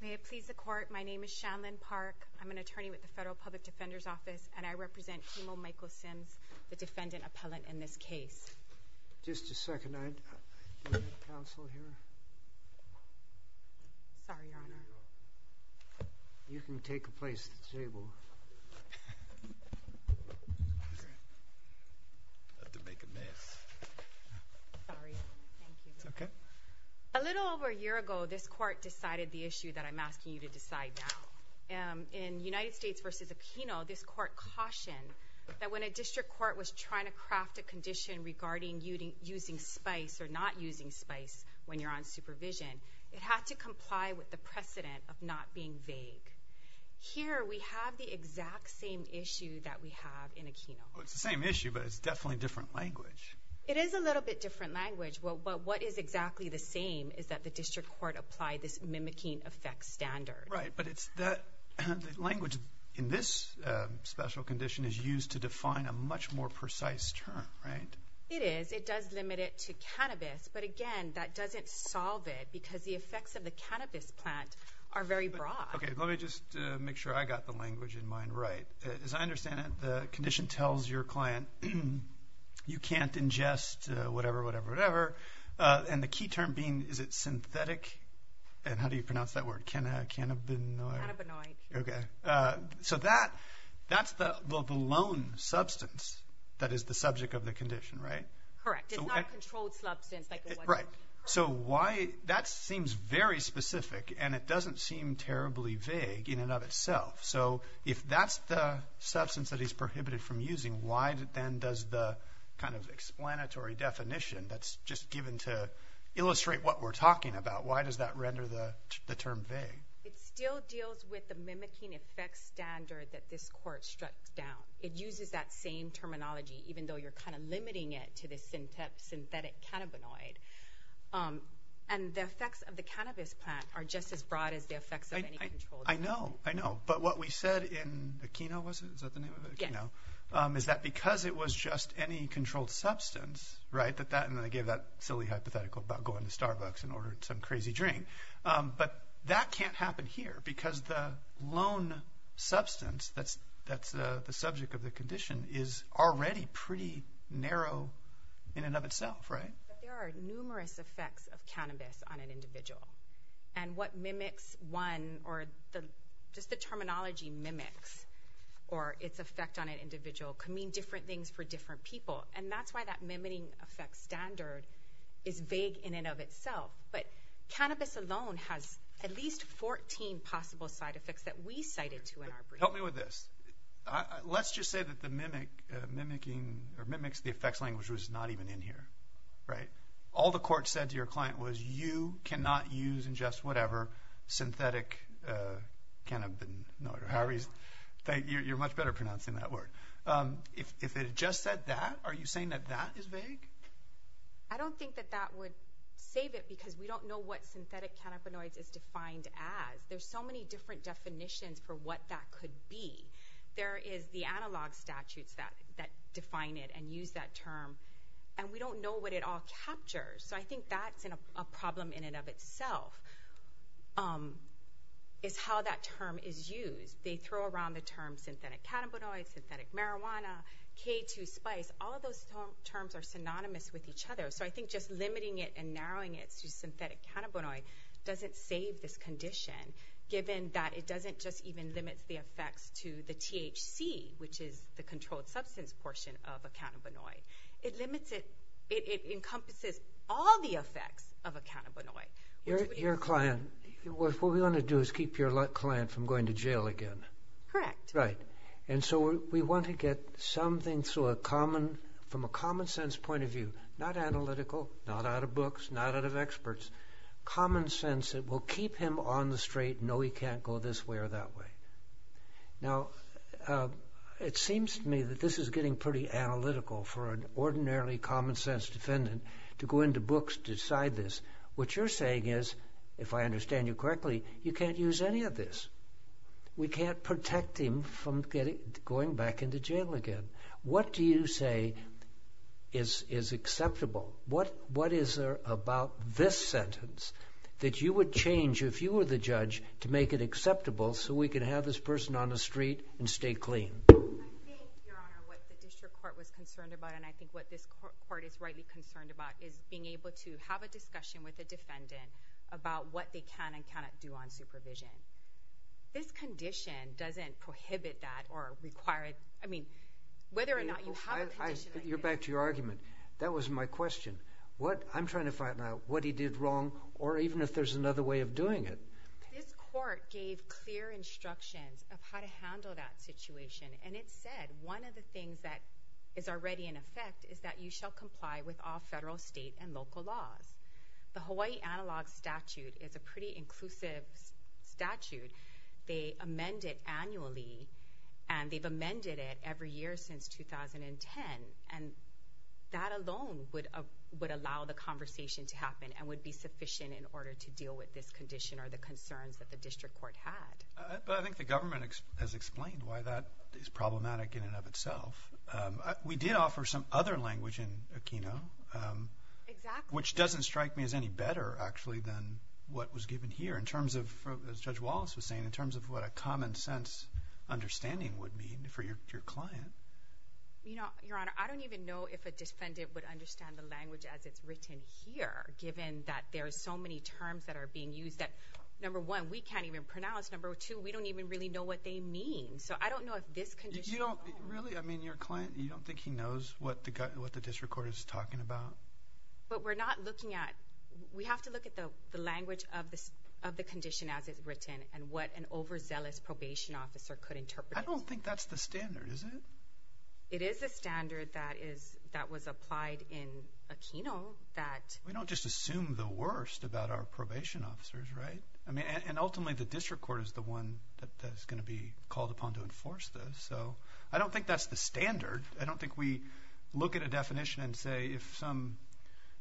May it please the court, my name is Shanlyn Park. I'm an attorney with the Federal Public Defender's Office and I represent Kimo Michael Sims, the defendant appellant in this case. Just a second, I need counsel here. Sorry, Your Honor. You can take a place at the table. I had to make a mess. Sorry. Thank you. A little over a year ago this court decided the issue that I'm asking you to decide now. In United States v. Aquino, this court cautioned that when a district court was trying to craft a condition regarding using spice or not using spice when you're on supervision, it had to comply with the precedent of not being vague. Here we have the exact same issue that we have in Aquino. It's the same issue but it's definitely different language. It is a what is exactly the same is that the district court applied this mimicking effect standard. Right, but it's that language in this special condition is used to define a much more precise term, right? It is. It does limit it to cannabis but again that doesn't solve it because the effects of the cannabis plant are very broad. Okay, let me just make sure I got the language in mind right. As I understand it, the condition tells your client you can't ingest whatever, whatever, whatever and the key term being is it synthetic and how do you pronounce that word? Cannabinoid. Okay, so that that's the lone substance that is the subject of the condition, right? Correct. It's not a controlled substance. Right, so why that seems very specific and it doesn't seem terribly vague in and of itself. So if that's the substance that he's prohibited from using, why then does the kind of explanatory definition that's just given to illustrate what we're talking about, why does that render the term vague? It still deals with the mimicking effect standard that this court struck down. It uses that same terminology even though you're kind of limiting it to this synthetic cannabinoid and the effects of the cannabis plant are just as broad as the effects of any controlled substance. I know, I know, but what we said in Aquino was it? Is that the name of it? Is that because it was just any controlled substance, right, that that and they gave that silly hypothetical about going to Starbucks and ordered some crazy drink, but that can't happen here because the lone substance that's that's the subject of the condition is already pretty narrow in and of itself, right? There are numerous effects of cannabis on an individual and what mimics one or just the terminology mimics or its effect on an individual can mean different things for different people and that's why that mimicking effect standard is vague in and of itself, but cannabis alone has at least 14 possible side effects that we cited to in our brief. Help me with this. Let's just say that the mimic mimics the effects language was not even in here, right? All the court said to your client was you cannot use and just whatever synthetic cannabinoids, you're much better pronouncing that word. If it just said that, are you saying that that is vague? I don't think that that would save it because we don't know what synthetic cannabinoids is defined as. There's so many different definitions for what that could be. There is the analog statutes that that define it and use that term and we don't know what it all captures. So I think that's a problem in and of itself is how that term is used. They throw around the term synthetic cannabinoids, synthetic marijuana, K2 spice. All of those terms are synonymous with each other. So I think just limiting it and narrowing it to synthetic cannabinoid doesn't save this condition given that it doesn't just even limit the effects to the THC which is the controlled substance portion of a cannabinoid. It limits it, it encompasses all the effects of a cannabinoid. Your client, what we want to do is keep your client from going to jail again. Correct. Right. And so we want to get something through a common, from a common sense point of view, not analytical, not out of books, not out of experts, common sense that will keep him on the straight, no he can't go this way or that way. Now it seems to me that this is getting pretty analytical for an ordinarily common sense defendant to go into books to decide this. What you're saying is, if I understand you correctly, you can't use any of this. We can't protect him from going back into jail again. What do you say is acceptable? What is there about this sentence that you would change if you were the judge to make it acceptable so we can have this person on the street and stay clean? I think, Your Honor, what the district court was concerned about and I think what this court is rightly concerned about is being able to have a discussion with a defendant about what they can and cannot do on supervision. This condition doesn't prohibit that or require it, I mean, whether or not you have a condition like this. You're back to your argument. That was my question. What, I'm trying to find out what he did wrong or even if there's another way of doing it. This court gave clear instructions of how to handle that situation and it said one of the things that is already in effect is that you shall comply with all federal, state, and local laws. The Hawaii Analog Statute is a pretty inclusive statute. They amend it annually and they've amended it every year since 2010 and that alone would allow the conversation to happen and would be sufficient in order to have a conversation that the district court had. But I think the government has explained why that is problematic in and of itself. We did offer some other language in Aquino, which doesn't strike me as any better actually than what was given here in terms of, as Judge Wallace was saying, in terms of what a common sense understanding would mean for your client. You know, Your Honor, I don't even know if a defendant would understand the language as it's written here, given that there's so many terms that are being used that, number one, we can't even pronounce, number two, we don't even really know what they mean. So I don't know if this condition... You don't really, I mean, your client, you don't think he knows what the district court is talking about? But we're not looking at, we have to look at the language of the condition as it's written and what an overzealous probation officer could interpret it. I don't think that's the standard, is it? It is a standard that was applied in Aquino that... We don't just assume the worst about our probation officers, right? I mean, and ultimately the district court is the one that's going to be called upon to enforce this. So I don't think that's the standard. I don't think we look at a definition and say, if some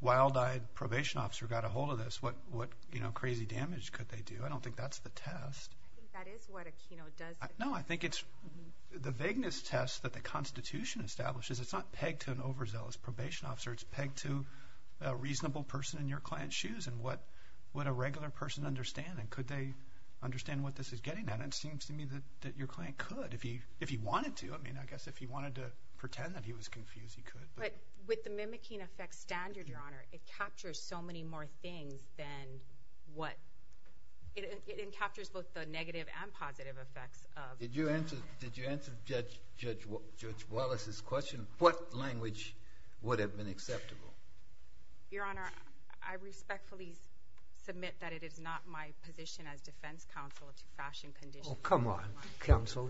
wild-eyed probation officer got a hold of this, what crazy damage could they do? I don't think that's the test. I think that is what Aquino does. No, I think it's the vagueness test that the Constitution establishes. It's not pegged to an overzealous probation officer. It's pegged to a reasonable person in your client's shoes. And what would a regular person understand? And could they understand what this is getting at? And it seems to me that your client could if he wanted to. I mean, I guess if he wanted to pretend that he was confused, he could. But with the mimicking effects standard, Your Honor, it captures so many more things than what... It encaptures both the negative and positive effects of... Did you answer Judge Wallace's question? What language would have been acceptable? Your Honor, I respectfully submit that it is not my position as defense counsel to fashion conditions. Oh, come on, counsel.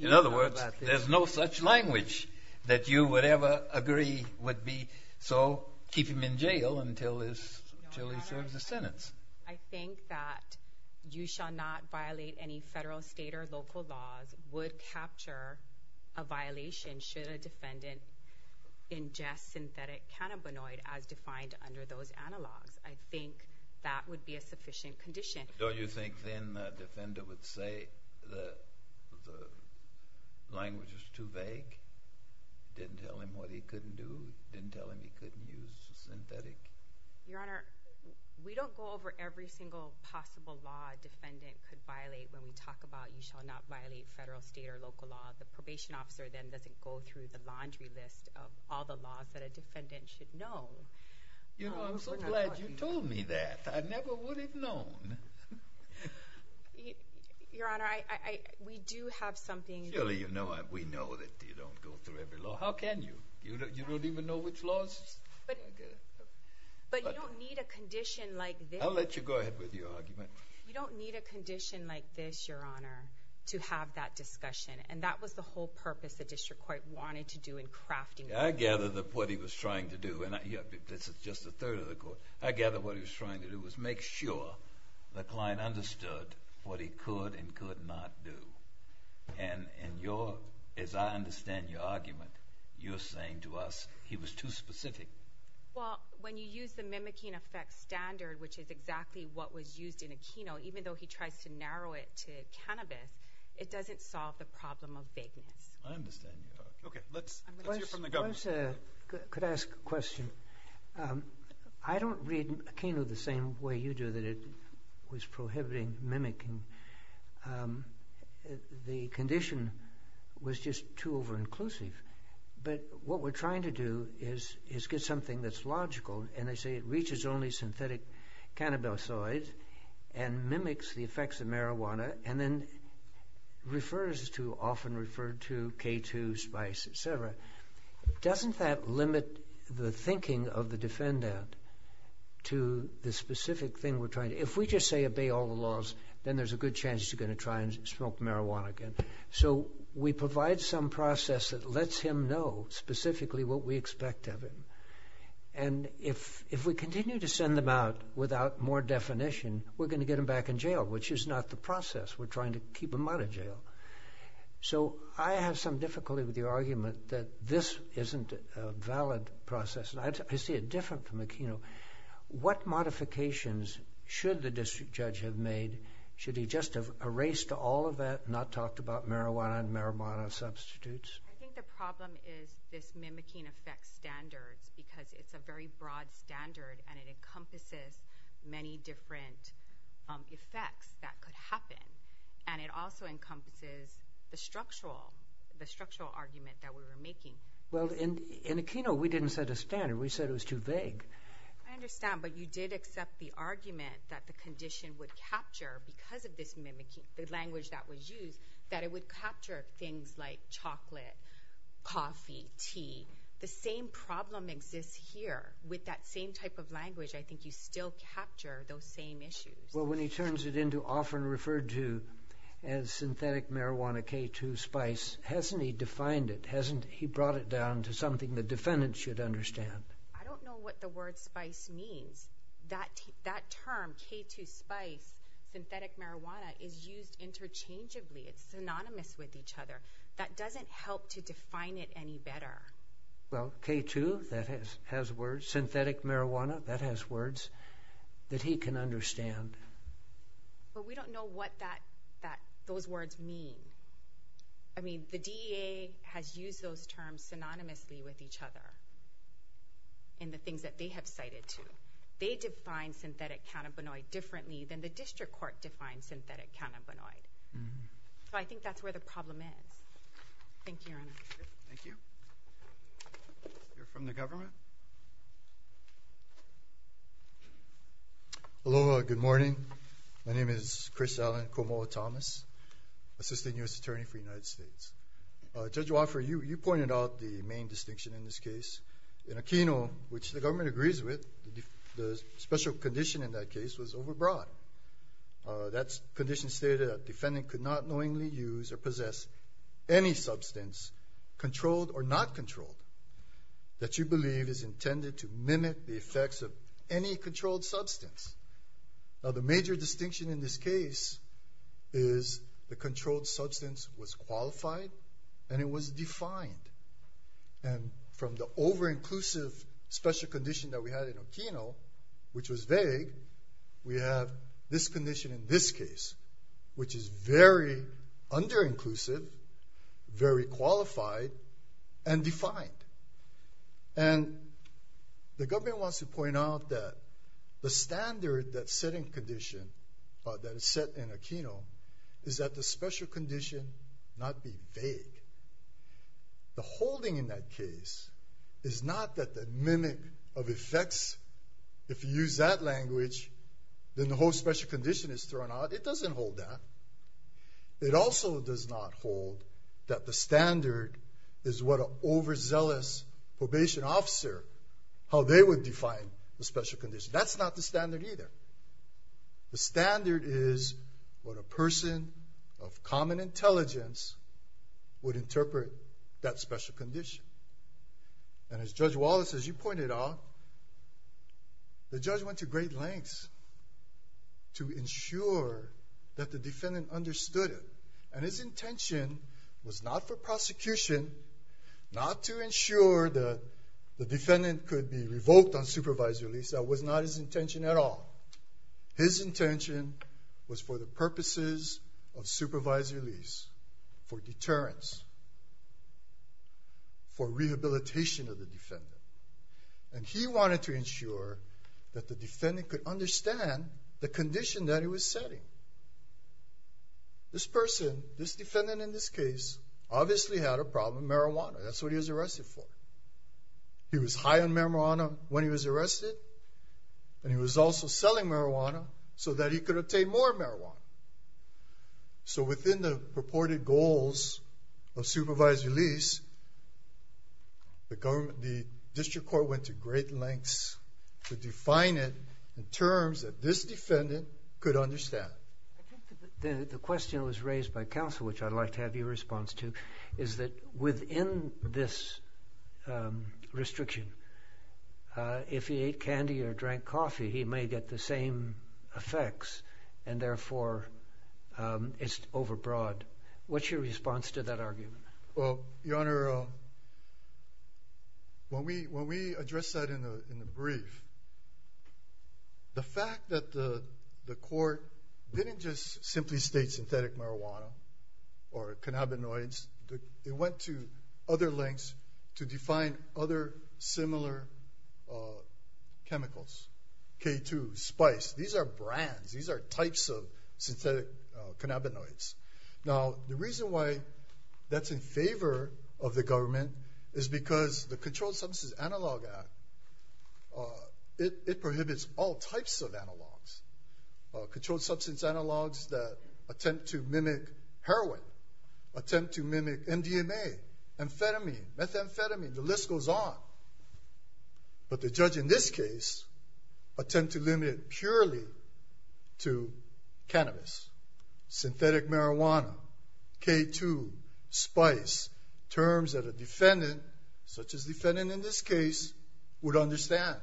In other words, there's no such language that you would ever agree would be so keep him in jail until he serves a sentence. I think that you shall not violate any federal, state, or local laws would capture a violation should a defendant ingest synthetic cannabinoid as defined under those analogs. I think that would be a sufficient condition. Don't you think then the defender would say the language was too vague? Didn't tell him what he couldn't do? Didn't tell him he couldn't use synthetic? Your Honor, we don't go over every single possible law a defendant could violate when we talk about you shall not violate federal, state, or local laws. The probation officer then doesn't go through the laundry list of all the laws that a defendant should know. You know, I'm so glad you told me that. I never would have known. Your Honor, we do have something... Surely you know, we know that you don't go through every law. How can you? You don't even know which laws? But you don't need a condition like this... I'll let you go ahead with your argument. You don't need a condition like this, Your Honor, to have that discussion. And that was the whole purpose the district court wanted to do in crafting... I gather that what he was trying to do, and this is just a third of the court, I gather what he was trying to do was make sure the client understood what he could and could not do. And as I understand your argument, you're saying to us he was too specific. Well, when you use the mimicking effect standard, which is exactly what was used in Aquino, even though he tries to narrow it to cannabis, it doesn't solve the problem of vagueness. I understand your argument. Okay, let's hear from the government. I could ask a question. I don't read Aquino the same way you do, that it was prohibiting mimicking. The condition was just too over-inclusive. But what we're trying to do is get something that's logical. And they say it reaches only synthetic cannabinoids and mimics the effects of marijuana and then refers to, often referred to, K2, spice, etc. Doesn't that limit the thinking of the defendant to the specific thing we're trying to... If we just say obey all the laws, then there's a good chance you're going to try and smoke marijuana again. So we provide some process that lets him know specifically what we expect of him. And if we continue to send them out without more definition, we're going to get them back in jail, which is not the process. We're trying to keep them out of jail. So I have some difficulty with your argument that this isn't a valid process. I see it different from Aquino. What modifications should the district judge have made? Should he just have erased all of that and not talked about marijuana and marijuana substitutes? I think the problem is this mimicking effects standards, because it's a very broad standard and it encompasses many different effects that could happen. And it also encompasses the structural argument that we were making. Well, in Aquino, we didn't set a standard. We said it was too vague. I understand, but you did accept the argument that the condition would capture, because of the language that was used, that it would capture things like chocolate, coffee, tea. The same problem exists here. With that same type of language, I think you still capture those same issues. Well, when he turns it into often referred to as synthetic marijuana, K2, spice, hasn't he defined it? Hasn't he brought it down to something the defendant should understand? I don't know what the word spice means. That term, K2, spice, synthetic marijuana, is used interchangeably. It's synonymous with each other. That doesn't help to define it any better. Well, K2, that has words. Synthetic marijuana, that has words that he can understand. But we don't know what those words mean. I mean, the DEA has used those terms synonymously with each other in the things that they have cited, too. They define synthetic cannabinoid differently than the district court defines synthetic cannabinoid. So I think that's where the problem is. Thank you, Your Honor. Thank you. Let's hear from the government. Aloha. Good morning. My name is Chris Allen Komoa-Thomas, Assistant U.S. Attorney for the United States. Judge Wofford, you pointed out the main distinction in this case. In a keynote, which the government agrees with, the special condition in that case was overbroad. That condition stated that defendant could not knowingly use or possess any substance, controlled or not controlled, that you believe is intended to mimic the effects of any controlled substance. Now, the major distinction in this case is the controlled substance was qualified and it was defined. And from the over-inclusive special condition that we had in Okino, which was vague, we have this condition in this case, which is very under-inclusive, very qualified, and defined. And the government wants to point out that the standard that's set in Okino is that the special condition not be vague. The holding in that case is not that the mimic of effects, if you use that language, then the whole special condition is thrown out. It doesn't hold that. It also does not hold that the standard is what an overzealous probation officer, how they would define the special condition. That's not the standard either. The standard is what a person of common intelligence would interpret that special condition. And as Judge Wallace, as you pointed out, the judge went to great lengths to ensure that the defendant understood it. And his intention was not for prosecution, not to ensure that the defendant could be revoked on supervisory lease. That was not his intention at all. His intention was for the purposes of supervisory lease, for deterrence, for rehabilitation of the defendant. And he wanted to ensure that the defendant could understand the condition that he was setting. This person, this defendant in this case, obviously had a problem with marijuana. That's what he was arrested for. He was high on marijuana when he was arrested, and he was also selling marijuana so that he could obtain more marijuana. So within the purported goals of supervisory lease, the district court went to great lengths to define it in terms that this defendant could understand. I think the question that was raised by counsel, which I'd like to have your response to, is that within this restriction, if he ate candy or drank coffee, he may get the same effects, and therefore it's overbroad. What's your response to that argument? Well, Your Honor, when we addressed that in the brief, the fact that the court didn't just simply state synthetic marijuana or cannabinoids, it went to other lengths to define other similar chemicals. K2, Spice, these are brands. These are types of synthetic cannabinoids. Now, the reason why that's in favor of the government is because the Controlled Substance Analog Act, it prohibits all types of analogs. Controlled substance analogs that attempt to mimic heroin, attempt to mimic MDMA, amphetamine, methamphetamine, the list goes on. But the judge in this case attempted to limit it purely to cannabis, synthetic marijuana, K2, Spice, terms that a defendant, such as the defendant in this case, would understand.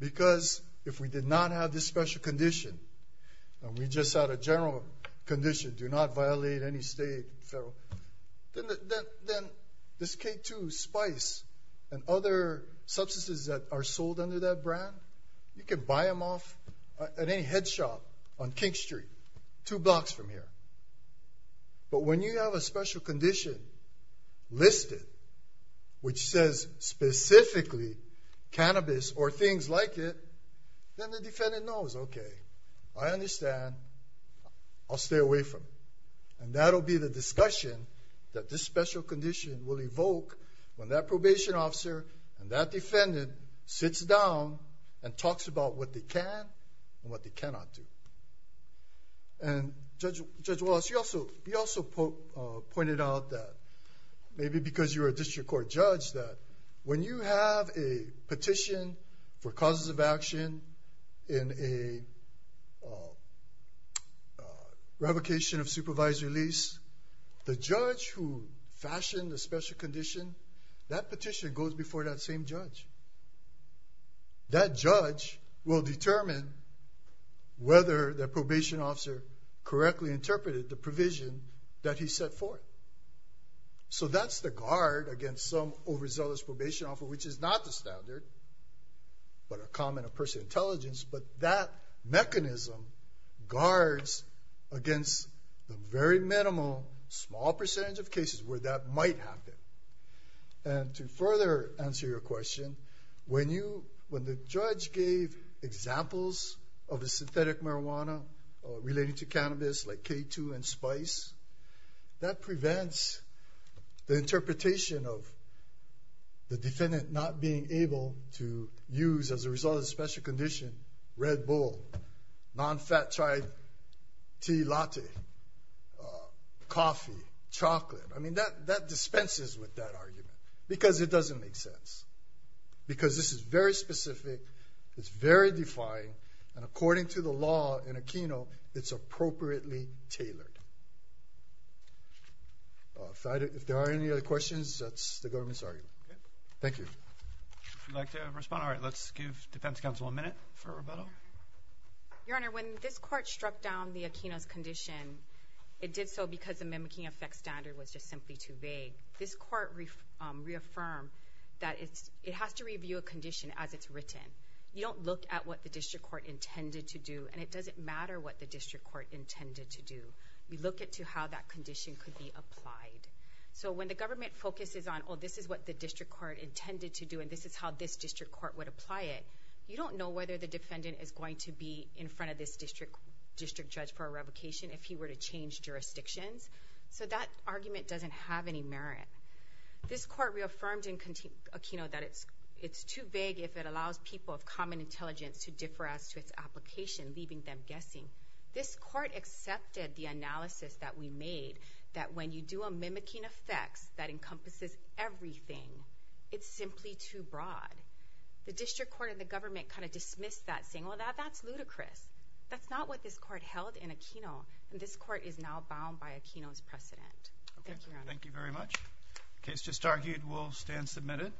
Because if we did not have this special condition, and we just had a general condition, do not violate any state, federal, then this K2, Spice, and other substances that are sold under that brand, you can buy them off at any head shop on King Street, two blocks from here. But when you have a special condition listed, which says specifically cannabis or things like it, then the defendant knows, okay, I understand, I'll stay away from it. And that'll be the discussion that this special condition will evoke when that probation officer and that defendant sits down and talks about what they can and what they cannot do. And Judge Wallace, you also pointed out that, maybe because you're a district court judge, that when you have a petition for causes of action in a revocation of supervisory lease, the judge who fashioned the special condition, that petition goes before that same judge. That judge will determine whether the probation officer correctly interpreted the provision that he set forth. So that's the guard against some overzealous probation officer, which is not the standard, but a comment of personal intelligence, but that mechanism guards against the very minimal, small percentage of cases where that might happen. And to further answer your question, when the judge gave examples of the synthetic marijuana relating to cannabis, like K2 and Spice, that prevents the interpretation of the defendant not being able to use, as a result of the special condition, Red Bull, nonfat chai tea latte, coffee, chocolate. I mean, that dispenses with that argument, because it doesn't make sense. Because this is very specific, it's very defined, and according to the law in Aquino, it's appropriately tailored. If there are any other questions, that's the government's argument. Thank you. If you'd like to respond, all right, let's give defense counsel a minute for rebuttal. Your Honor, when this court struck down the Aquino's condition, it did so because the mimicking effects standard was just simply too vague. This court reaffirmed that it has to review a condition as it's written. You don't look at what the district court intended to do, and it doesn't matter what the district court intended to do. We look at how that condition could be applied. So when the government focuses on, oh, this is what the district court intended to do, and this is how this district court would apply it, you don't know whether the defendant is going to be in front of this district judge for a revocation if he were to change jurisdictions. So that argument doesn't have any merit. This court reaffirmed in Aquino that it's too vague if it allows people of common intelligence to differ as to its application, leaving them guessing. This court accepted the analysis that we made that when you do a mimicking effect that encompasses everything, it's simply too broad. The district court and the government kind of dismissed that, saying, well, that's ludicrous. That's not what this court held in Aquino, and this court is now bound by Aquino's precedent. Thank you, Your Honor. Thank you very much. The case just argued will stand submitted.